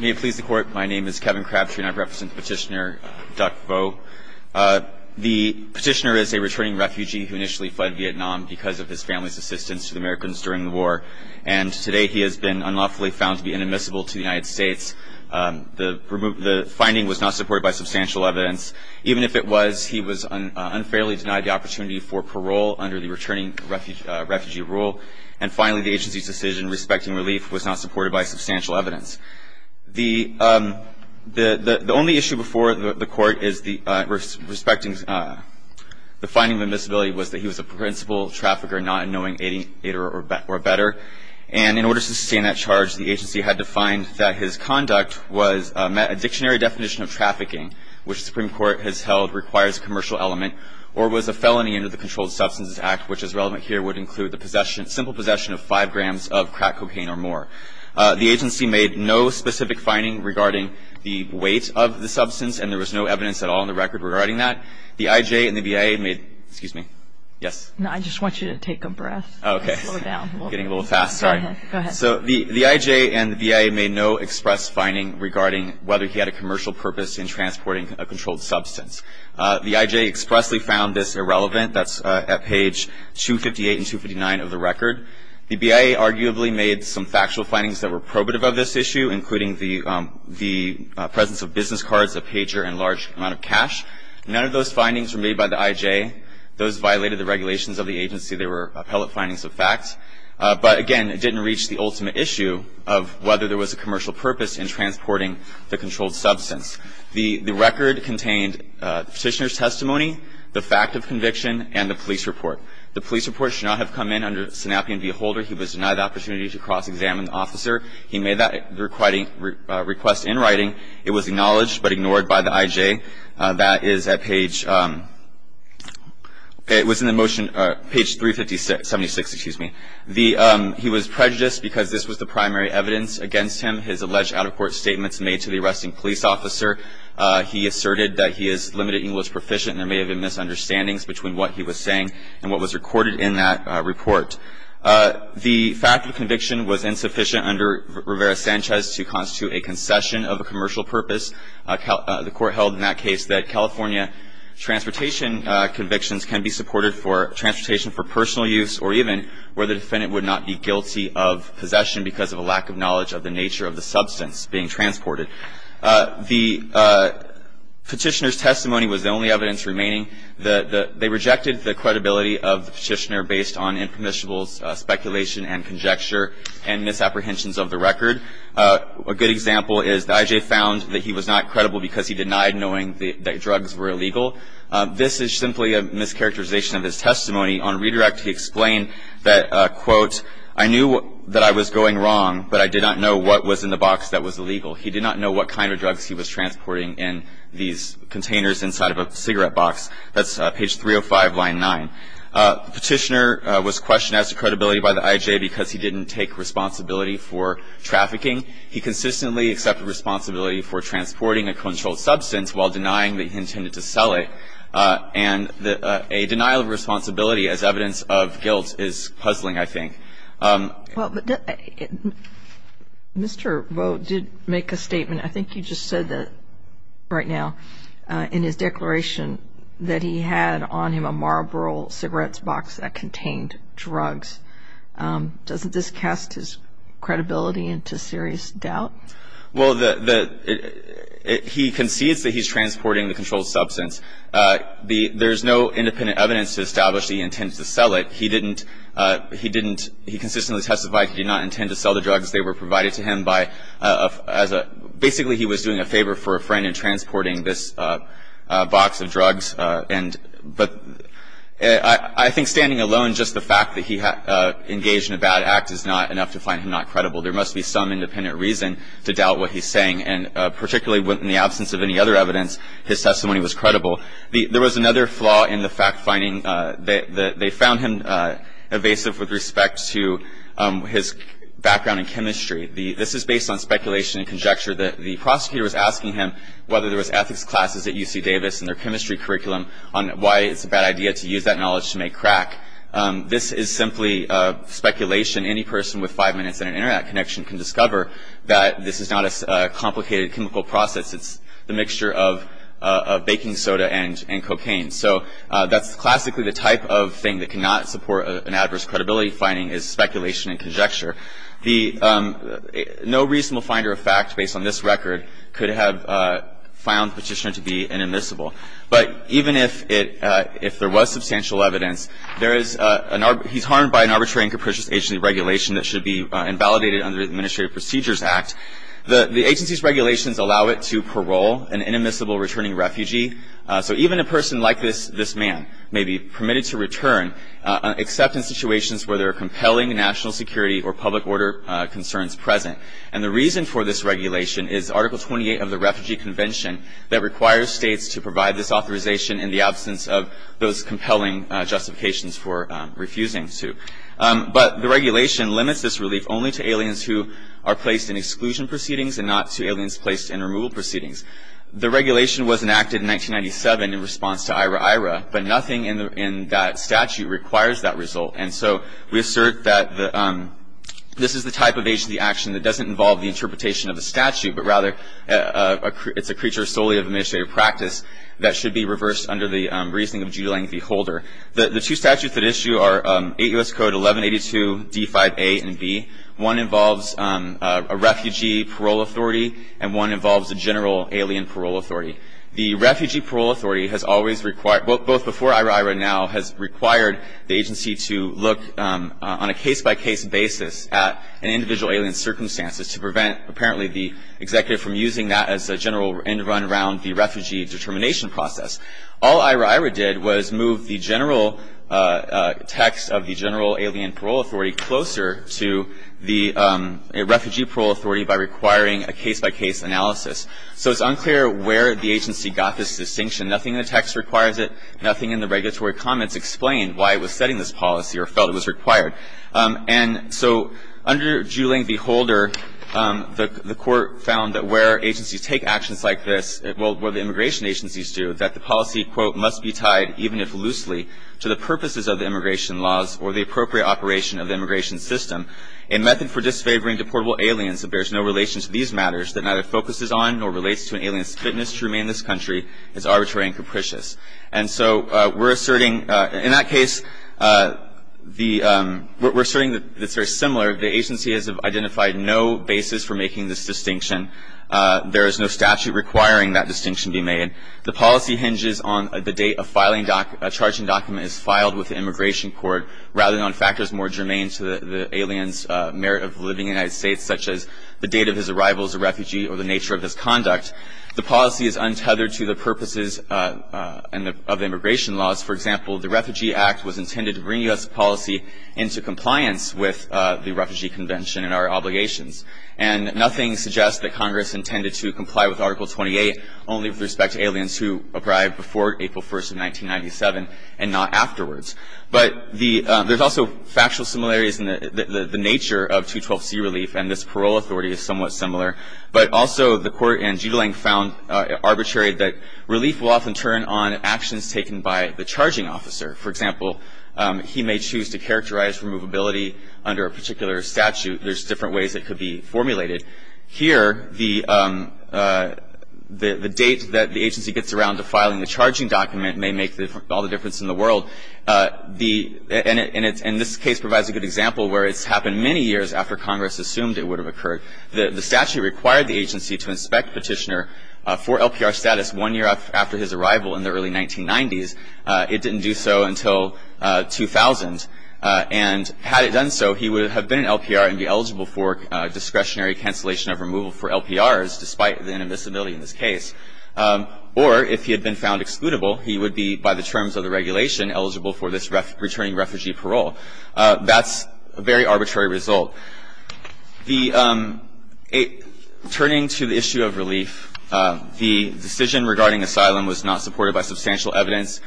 May it please the Court, my name is Kevin Crabtree and I represent the petitioner, Duc Vo. The petitioner is a returning refugee who initially fled Vietnam because of his family's assistance to the Americans during the war, and today he has been unlawfully found to be inadmissible to the United States. The finding was not supported by substantial evidence. Even if it was, he was unfairly denied the opportunity for parole under the returning refugee rule, and finally, the agency's decision respecting relief was not supported by substantial evidence. The only issue before the Court is the finding of admissibility was that he was a principal trafficker, not knowing any better. And in order to sustain that charge, the agency had to find that his conduct was a dictionary definition of trafficking, which the Supreme Court has held requires a commercial element, or was a felony under the Controlled Substances Act, which is relevant here, would include the possession, simple possession of five grams of crack cocaine or more. The agency made no specific finding regarding the weight of the substance, and there was no evidence at all in the record regarding that. The IJ and the BIA made, excuse me, yes? No, I just want you to take a breath. Okay. Slow down. I'm getting a little fast, sorry. Go ahead. So the IJ and the BIA made no express finding regarding whether he had a commercial purpose in transporting a controlled substance. The IJ expressly found this irrelevant. That's at page 258 and 259 of the record. The BIA arguably made some factual findings that were probative of this issue, including the presence of business cards, a pager, and large amount of cash. None of those findings were made by the IJ. Those violated the regulations of the agency. They were appellate findings of fact. But, again, it didn't reach the ultimate issue of whether there was a commercial purpose in transporting the controlled substance. The record contained the petitioner's testimony, the fact of conviction, and the police report. The police report should not have come in under a synapian v. Holder. He was denied the opportunity to cross-examine the officer. He made that request in writing. It was acknowledged but ignored by the IJ. That is at page, it was in the motion, page 356, excuse me. He was prejudiced because this was the primary evidence against him, his alleged out-of-court statements made to the arresting police officer. He asserted that he is limited, he was proficient, and there may have been misunderstandings between what he was saying and what was recorded in that report. The fact of conviction was insufficient under Rivera-Sanchez to constitute a concession of a commercial purpose. The court held in that case that California transportation convictions can be supported for transportation for personal use or even where the defendant would not be guilty of possession because of a lack of knowledge of the nature of the substance being transported. The petitioner's testimony was the only evidence remaining. They rejected the credibility of the petitioner based on impermissible speculation and conjecture and misapprehensions of the record. A good example is the IJ found that he was not credible because he denied knowing that drugs were illegal. This is simply a mischaracterization of his testimony. On redirect, he explained that, quote, I knew that I was going wrong, but I did not know what was in the box that was illegal. He did not know what kind of drugs he was transporting in these containers inside of a cigarette box. That's page 305, line 9. The petitioner was questioned as to credibility by the IJ because he didn't take responsibility for trafficking. He consistently accepted responsibility for transporting a controlled substance while denying that he intended to sell it. And a denial of responsibility as evidence of guilt is puzzling, I think. Well, but Mr. Vo did make a statement. I think you just said that right now in his declaration that he had on him a Marlboro cigarettes box that contained drugs. Doesn't this cast his credibility into serious doubt? Well, the – he concedes that he's transporting the controlled substance. There's no independent evidence to establish that he intended to sell it. He didn't – he didn't – he consistently testified he did not intend to sell the drugs. They were provided to him by – as a – basically, he was doing a favor for a friend in transporting this box of drugs. And – but I think standing alone, just the fact that he engaged in a bad act is not enough to find him not credible. There must be some independent reason to doubt what he's saying. And particularly in the absence of any other evidence, his testimony was credible. There was another flaw in the fact-finding. They found him evasive with respect to his background in chemistry. This is based on speculation and conjecture. The prosecutor was asking him whether there was ethics classes at UC Davis in their chemistry curriculum on why it's a bad idea to use that knowledge to make crack. This is simply speculation. Any person with five minutes and an internet connection can discover that this is not a complicated chemical process. It's the mixture of baking soda and cocaine. So that's classically the type of thing that cannot support an adverse credibility finding is speculation and conjecture. The – no reasonable finder of fact based on this record could have found Petitioner to be an admissible. But even if it – if there was substantial evidence, there is – he's harmed by an arbitrary and capricious agency regulation that should be invalidated under the Administrative Procedures Act. The agency's regulations allow it to parole an inadmissible returning refugee. So even a person like this man may be permitted to return, except in situations where there are compelling national security or public order concerns present. And the reason for this regulation is Article 28 of the Refugee Convention that requires states to provide this authorization in the absence of those compelling justifications for refusing to. But the regulation limits this relief only to aliens who are placed in exclusion proceedings and not to aliens placed in removal proceedings. The regulation was enacted in 1997 in response to IRA-IRA, but nothing in that statute requires that result. And so we assert that the – this is the type of agency action that doesn't involve the interpretation of a statute, but rather it's a creature solely of administrative practice that should be reversed under the reasoning of due length beholder. The two statutes at issue are 8 U.S. Code 1182, D-5A and B. One involves a refugee parole authority and one involves a general alien parole authority. The refugee parole authority has always required – both before IRA-IRA and now – has required the agency to look on a case-by-case basis at an individual alien's circumstances to prevent apparently the executive from using that as a general end run around the refugee determination process. All IRA-IRA did was move the general text of the general alien parole authority closer to the refugee parole authority by requiring a case-by-case analysis. So it's unclear where the agency got this distinction. Nothing in the text requires it. Nothing in the regulatory comments explain why it was setting this policy or felt it was required. And so under due length beholder, the Court found that where agencies take actions like this, well, where the immigration agencies do, that the policy, quote, must be tied, even if loosely, to the purposes of the immigration laws or the appropriate operation of the immigration system. A method for disfavoring deportable aliens that bears no relation to these matters that neither focuses on nor relates to an alien's fitness to remain in this country is arbitrary and capricious. And so we're asserting – in that case, the – we're asserting that it's very similar. The agency has identified no basis for making this distinction. There is no statute requiring that distinction be made. The policy hinges on the date a filing – a charging document is filed with the immigration court rather than on factors more germane to the alien's merit of living in the United States, such as the date of his arrival as a refugee or the nature of his conduct. The policy is untethered to the purposes of immigration laws. For example, the Refugee Act was intended to bring U.S. policy into compliance with the Refugee Convention and our obligations. And nothing suggests that Congress intended to comply with Article 28 only with respect to aliens who arrived before April 1st of 1997 and not afterwards. But the – there's also factual similarities in the nature of 212C relief, and this parole authority is somewhat similar. But also the court in Jitilang found arbitrary that relief will often turn on actions taken by the charging officer. For example, he may choose to characterize removability under a particular statute. There's different ways it could be formulated. Here, the date that the agency gets around to filing the charging document may make all the difference in the world. The – and this case provides a good example where it's happened many years after Congress assumed it would have occurred. The statute required the agency to inspect Petitioner for LPR status one year after his arrival in the early 1990s. It didn't do so until 2000. And had it done so, he would have been an LPR and be eligible for discretionary cancellation of removal for LPRs, despite the inadmissibility in this case. Or if he had been found excludable, he would be, by the terms of the regulation, eligible for this returning refugee parole. That's a very arbitrary result. The – turning to the issue of relief, the decision regarding asylum was not supported by substantial evidence.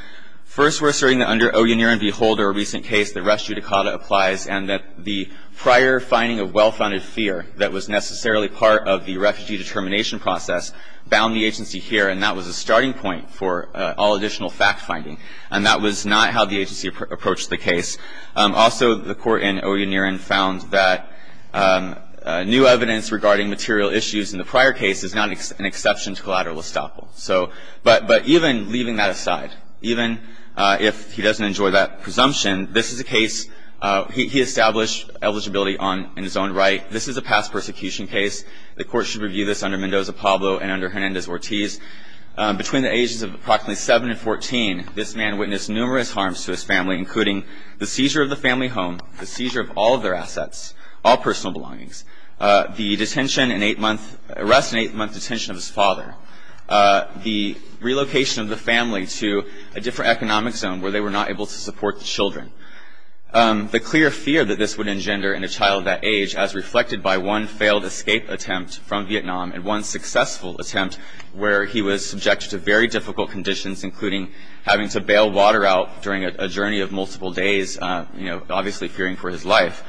First, we're asserting that under Oye Niren v. Holder, a recent case, the res judicata applies, and that the prior finding of well-founded fear that was necessarily part of the refugee determination process bound the agency here. And that was a starting point for all additional fact-finding. And that was not how the agency approached the case. Also, the court in Oye Niren found that new evidence regarding material issues in the prior case is not an exception to collateral estoppel. So – but even leaving that aside, even if he doesn't enjoy that presumption, this is a case – he established eligibility on – in his own right. This is a past persecution case. The court should review this under Mendoza-Pablo and under Hernandez-Ortiz. Between the ages of approximately 7 and 14, this man witnessed numerous harms to his family, including the seizure of the family home, the seizure of all of their assets, all personal belongings, the detention and eight-month – arrest and eight-month detention of his father, the relocation of the family to a different economic zone where they were not able to support the children. The clear fear that this would engender in a child that age, as reflected by one failed escape attempt from Vietnam and one successful attempt where he was subjected to very difficult conditions, including having to bail water out during a journey of multiple days, you know, obviously fearing for his life.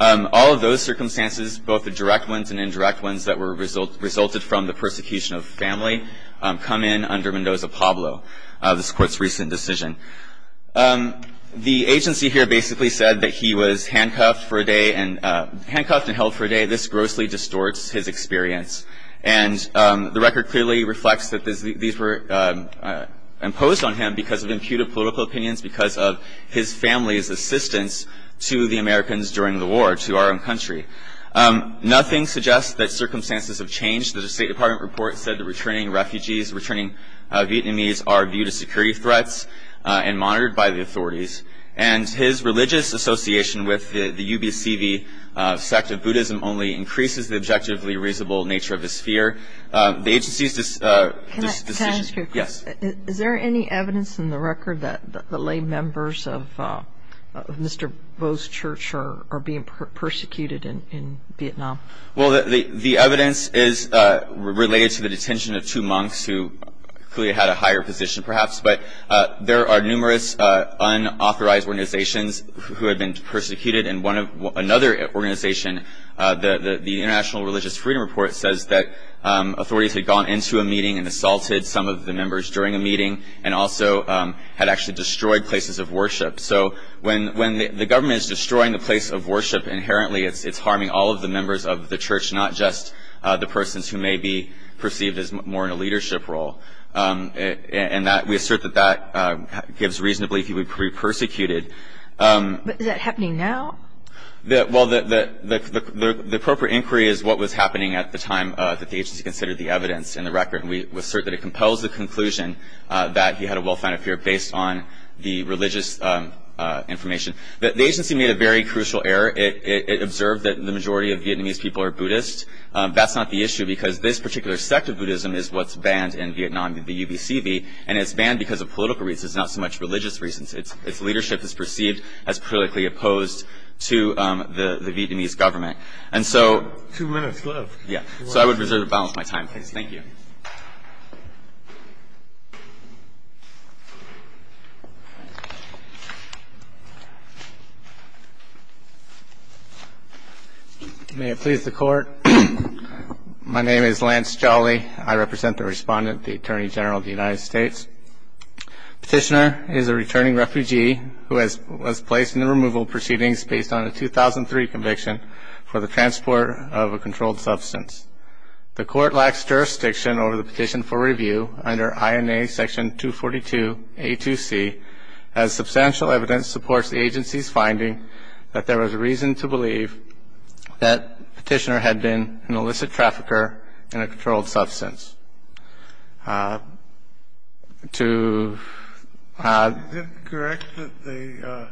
All of those circumstances, both the direct ones and indirect ones that were – resulted from the persecution of family, come in under Mendoza-Pablo, this Court's recent decision. The agency here basically said that he was handcuffed for a day and – handcuffed and held for a day. This grossly distorts his experience. And the record clearly reflects that these were imposed on him because of imputed political opinions, because of his family's assistance to the Americans during the war, to our own country. Nothing suggests that circumstances have changed. The State Department report said that returning refugees, returning Vietnamese are viewed as security threats. And monitored by the authorities. And his religious association with the UBCV sect of Buddhism only increases the objectively reasonable nature of his fear. The agency's decision – Can I ask you a question? Yes. Is there any evidence in the record that the lay members of Mr. Vo's church are being persecuted in Vietnam? Well, the evidence is related to the detention of two monks who clearly had a higher position perhaps. But there are numerous unauthorized organizations who have been persecuted. And one of – another organization, the International Religious Freedom Report, says that authorities had gone into a meeting and assaulted some of the members during a meeting and also had actually destroyed places of worship. So when the government is destroying the place of worship inherently, it's harming all of the members of the church, not just the persons who may be perceived as more in a leadership role. And that – we assert that that gives reason to believe he would be persecuted. But is that happening now? Well, the appropriate inquiry is what was happening at the time that the agency considered the evidence in the record. And we assert that it compels the conclusion that he had a well-founded fear based on the religious information. The agency made a very crucial error. It observed that the majority of Vietnamese people are Buddhist. That's not the issue because this particular sect of Buddhism is what's banned in Vietnam, the UBCV. And it's banned because of political reasons, not so much religious reasons. Its leadership is perceived as politically opposed to the Vietnamese government. And so – Two minutes left. Yeah. So I would reserve the balance of my time, please. Thank you. Thank you. May it please the Court. My name is Lance Jolly. I represent the Respondent, the Attorney General of the United States. Petitioner is a returning refugee who was placed in the removal proceedings based on a 2003 conviction for the transport of a controlled substance. The Court lacks jurisdiction over the petition for review under INA Section 242A2C as substantial evidence supports the agency's finding that there was reason to believe that Petitioner had been an illicit trafficker in a controlled substance. To – Is it correct that the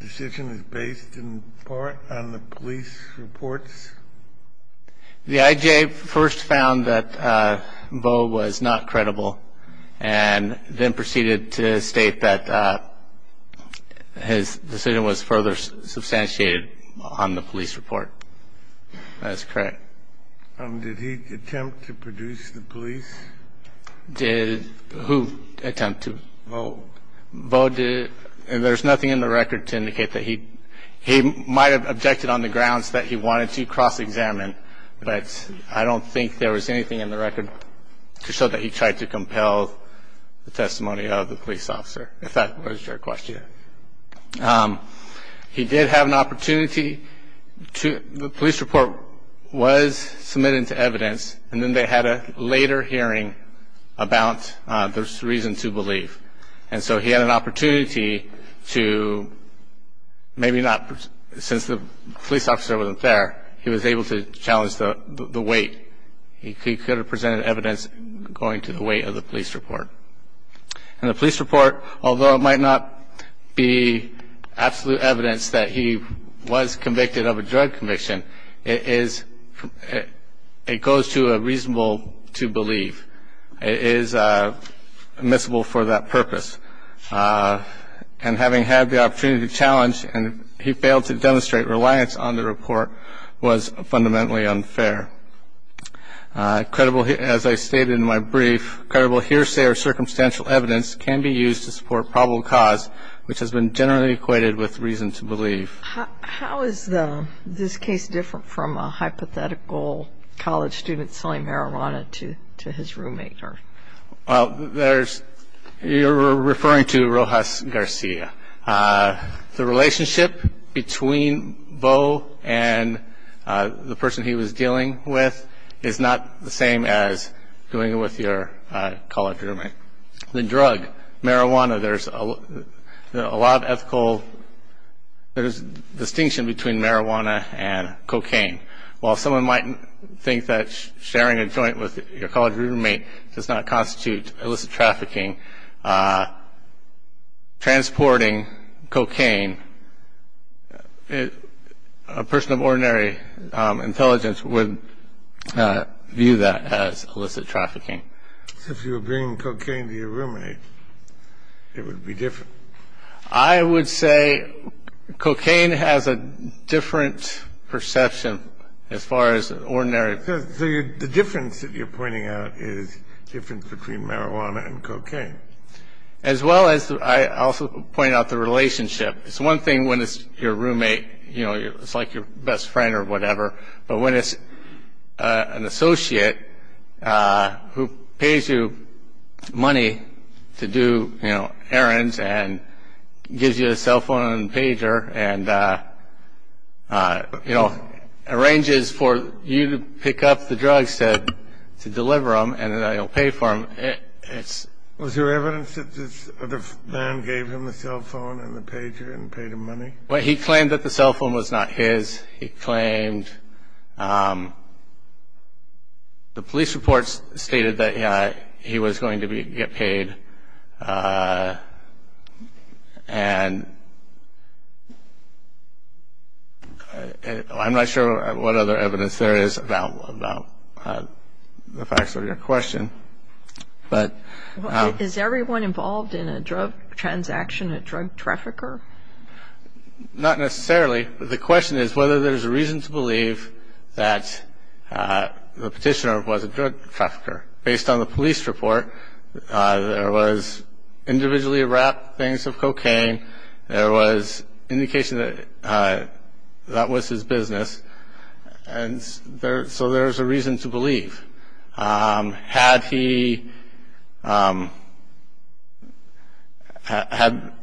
decision is based in part on the police reports? The IJA first found that Vo was not credible and then proceeded to state that his decision was further substantiated on the police report. That is correct. Did he attempt to produce the police? Did who attempt to? Vo. Vo did – and there's nothing in the record to indicate that he – he might have objected on the grounds that he wanted to cross-examine, but I don't think there was anything in the record to show that he tried to compel the testimony of the police officer, if that was your question. He did have an opportunity to – the police report was submitted to evidence and then they had a later hearing about the reason to believe. And so he had an opportunity to – maybe not – since the police officer wasn't there, he was able to challenge the weight. He could have presented evidence going to the weight of the police report. And the police report, although it might not be absolute evidence that he was convicted of a drug conviction, it is – it goes to a reasonable to believe. It is admissible for that purpose. And having had the opportunity to challenge and he failed to demonstrate reliance on the report was fundamentally unfair. As I stated in my brief, credible hearsay or circumstantial evidence can be used to support probable cause, which has been generally equated with reason to believe. How is this case different from a hypothetical college student selling marijuana to his roommate? There's – you're referring to Rojas Garcia. The relationship between Beau and the person he was dealing with is not the same as doing it with your college roommate. The drug, marijuana, there's a lot of ethical – there's a distinction between marijuana and cocaine. While someone might think that sharing a joint with your college roommate does not constitute illicit trafficking, transporting cocaine, a person of ordinary intelligence would view that as illicit trafficking. If you were bringing cocaine to your roommate, it would be different. I would say cocaine has a different perception as far as ordinary – So the difference that you're pointing out is the difference between marijuana and cocaine. As well as I also point out the relationship. It's one thing when it's your roommate, you know, it's like your best friend or whatever, but when it's an associate who pays you money to do, you know, errands and gives you a cell phone and a pager and, you know, arranges for you to pick up the drugs to deliver them and that you'll pay for them, it's – Was there evidence that this other man gave him the cell phone and the pager and paid him money? Well, he claimed that the cell phone was not his. He claimed – the police reports stated that he was going to get paid. And I'm not sure what other evidence there is about the facts of your question, but – Is everyone involved in a drug transaction a drug trafficker? Not necessarily. The question is whether there's a reason to believe that the petitioner was a drug trafficker. Based on the police report, there was individually wrapped things of cocaine. There was indication that that was his business. And so there's a reason to believe. Had he had –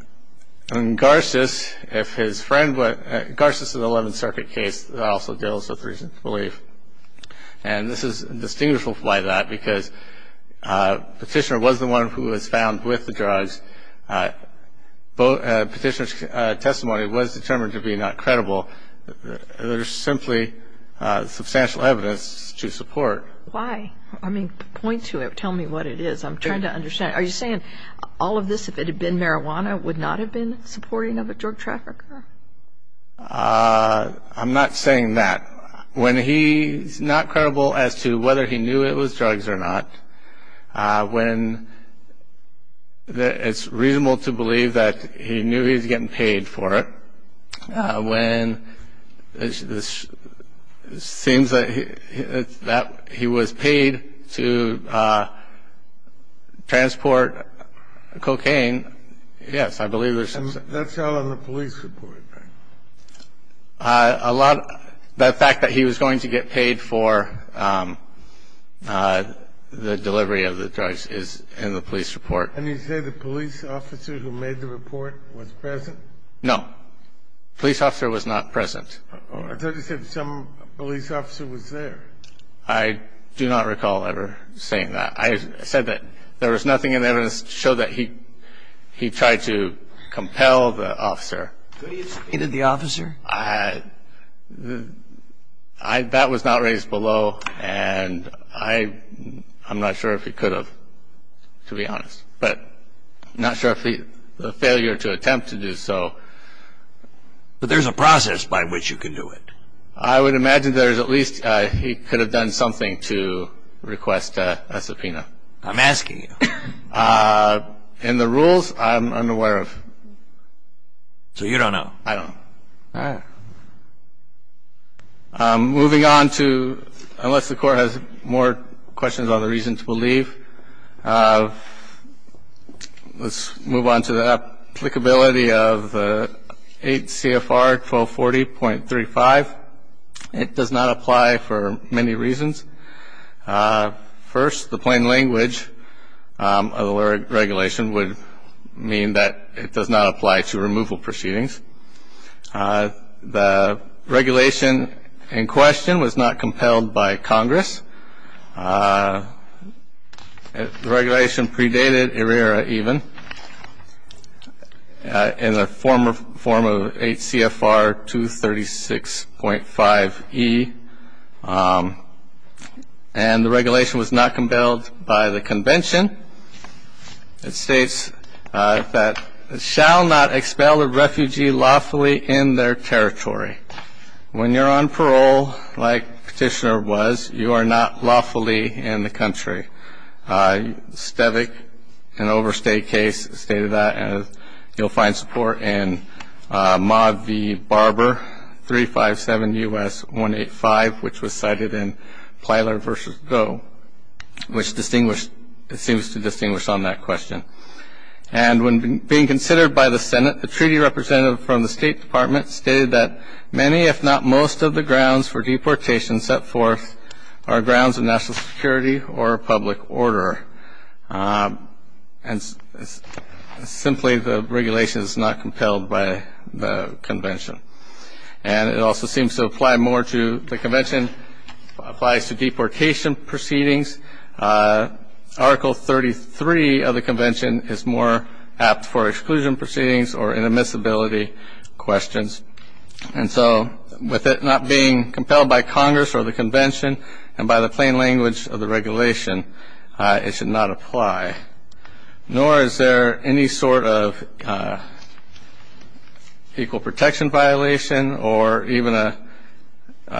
I mean, Garces, if his friend – Garces is an 11th Circuit case that also deals with reason to believe. And this is distinguishable by that because the petitioner was the one who was found with the drugs. Petitioner's testimony was determined to be not credible. There's simply substantial evidence to support. Why? I mean, point to it. Tell me what it is. I'm trying to understand. Are you saying all of this, if it had been marijuana, would not have been supporting of a drug trafficker? I'm not saying that. When he's not credible as to whether he knew it was drugs or not, when it's reasonable to believe that he knew he was getting paid for it, when it seems that he was paid to transport cocaine, yes, I believe there's – And that's all in the police report, right? A lot – the fact that he was going to get paid for the delivery of the drugs is in the police report. And you say the police officer who made the report was present? No. The police officer was not present. I thought you said some police officer was there. I do not recall ever saying that. I said that there was nothing in the evidence to show that he tried to compel the officer. Did he defeat the officer? That was not raised below, and I'm not sure if he could have, to be honest. But I'm not sure of the failure to attempt to do so. But there's a process by which you can do it. I would imagine there's at least – he could have done something to request a subpoena. I'm asking you. In the rules, I'm unaware of. So you don't know? I don't know. All right. Moving on to – unless the Court has more questions on the reasons, we'll leave. Let's move on to the applicability of 8 CFR 1240.35. It does not apply for many reasons. First, the plain language of the regulation would mean that it does not apply to removal proceedings. The regulation in question was not compelled by Congress. The regulation predated ERIRA even in the form of 8 CFR 236.5e. And the regulation was not compelled by the convention. It states that it shall not expel a refugee lawfully in their territory. When you're on parole, like Petitioner was, you are not lawfully in the country. Stevic, an overstate case, stated that. And you'll find support in Mod v. Barber 357 U.S. 185, which was cited in Plyler v. Goe, which seems to distinguish on that question. And when being considered by the Senate, a treaty representative from the State Department stated that many, if not most of the grounds for deportation set forth are grounds of national security or public order. And simply, the regulation is not compelled by the convention. And it also seems to apply more to – Article 33 of the convention is more apt for exclusion proceedings or inadmissibility questions. And so with it not being compelled by Congress or the convention and by the plain language of the regulation, it should not apply. Nor is there any sort of equal protection violation or even a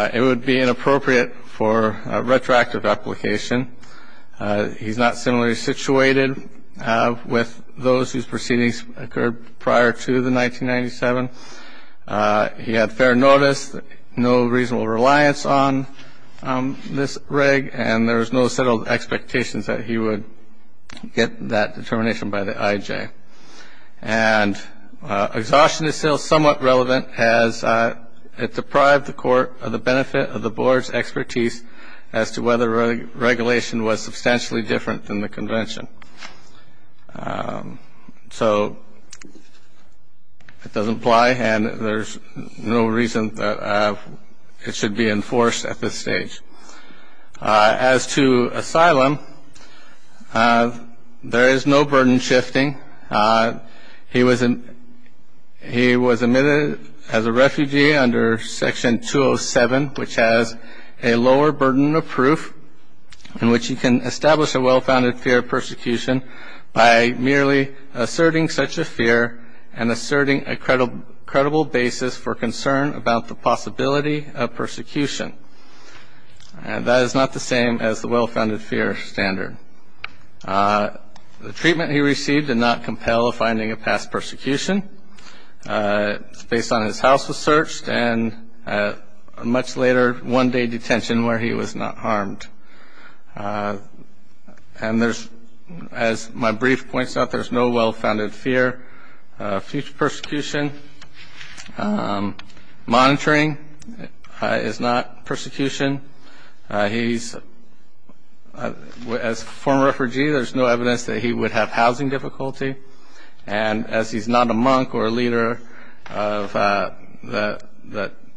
– it would be inappropriate for a retroactive application. He's not similarly situated with those whose proceedings occurred prior to the 1997. He had fair notice, no reasonable reliance on this reg, and there was no settled expectations that he would get that determination by the IJ. And exhaustion is still somewhat relevant, as it deprived the court of the benefit of the board's expertise as to whether regulation was substantially different than the convention. So it doesn't apply, and there's no reason that it should be enforced at this stage. As to asylum, there is no burden shifting. He was admitted as a refugee under Section 207, which has a lower burden of proof in which he can establish a well-founded fear of persecution by merely asserting such a fear and asserting a credible basis for concern about the possibility of persecution. That is not the same as the well-founded fear standard. The treatment he received did not compel finding a past persecution. It's based on his house was searched and a much later one-day detention where he was not harmed. And there's, as my brief points out, there's no well-founded fear of future persecution. Monitoring is not persecution. He's, as a former refugee, there's no evidence that he would have housing difficulty. And as he's not a monk or a leader of the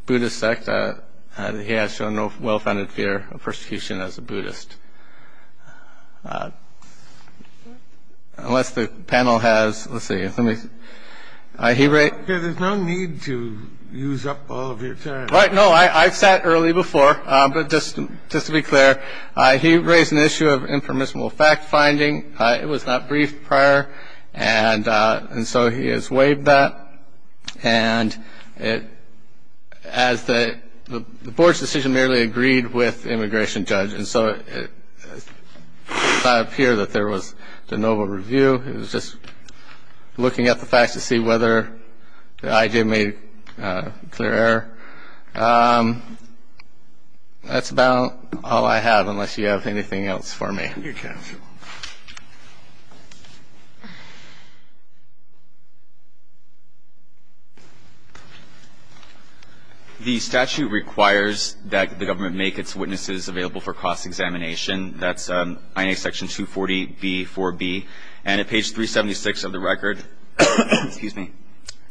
Buddhist sect, he has shown no well-founded fear of persecution as a Buddhist. Unless the panel has, let's see. Let me see. There's no need to use up all of your time. Right. No, I've sat early before. But just to be clear, he raised an issue of informational fact-finding. It was not briefed prior. And so he has waived that. And the board's decision merely agreed with the immigration judge. And so it does not appear that there was de novo review. It was just looking at the facts to see whether the IG made a clear error. That's about all I have, unless you have anything else for me. Thank you, counsel. The statute requires that the government make its witnesses available for cross-examination. That's INA Section 240b, 4b. And at page 376 of the record,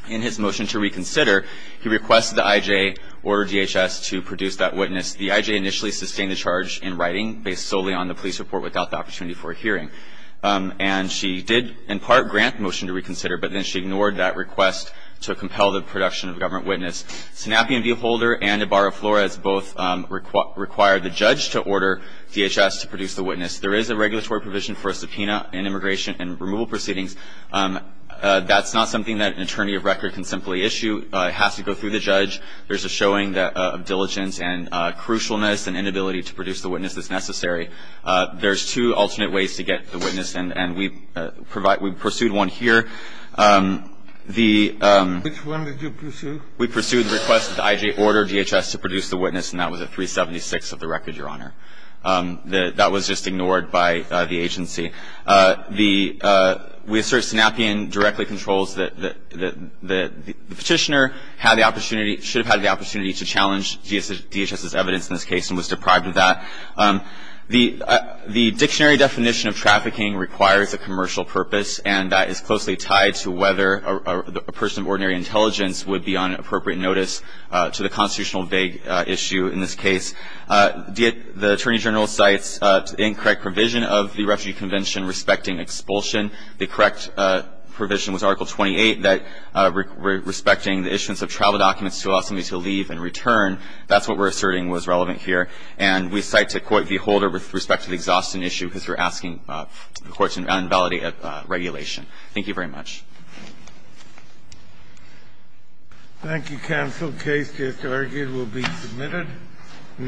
in his motion to reconsider, he requested the IJ order DHS to produce that witness. The IJ initially sustained the charge in writing, based solely on the police report without the opportunity for a hearing. And she did, in part, grant the motion to reconsider, but then she ignored that request to compel the production of a government witness. Sanappian v. Holder and Ibarra-Flores both required the judge to order DHS to produce the witness. There is a regulatory provision for a subpoena in immigration and removal proceedings. That's not something that an attorney of record can simply issue. It has to go through the judge. There's a showing of diligence and crucialness. An inability to produce the witness is necessary. There's two alternate ways to get the witness, and we pursued one here. The ---- Which one did you pursue? We pursued the request that the IJ order DHS to produce the witness, and that was at 376 of the record, Your Honor. That was just ignored by the agency. The ---- We assert Sanappian directly controls that the petitioner had the opportunity ---- should have had the opportunity to challenge DHS's evidence in this case and was deprived of that. The dictionary definition of trafficking requires a commercial purpose, and that is closely tied to whether a person of ordinary intelligence would be on appropriate notice to the constitutional vague issue in this case. The Attorney General cites incorrect provision of the Refugee Convention respecting expulsion. The correct provision was Article 28 that respecting the issuance of travel documents to allow somebody to leave and return. That's what we're asserting was relevant here. And we cite to quote the holder with respect to the exhaustion issue because we're asking the courts to invalidate that regulation. Thank you very much. Thank you, counsel. The case just argued will be submitted. Thank you.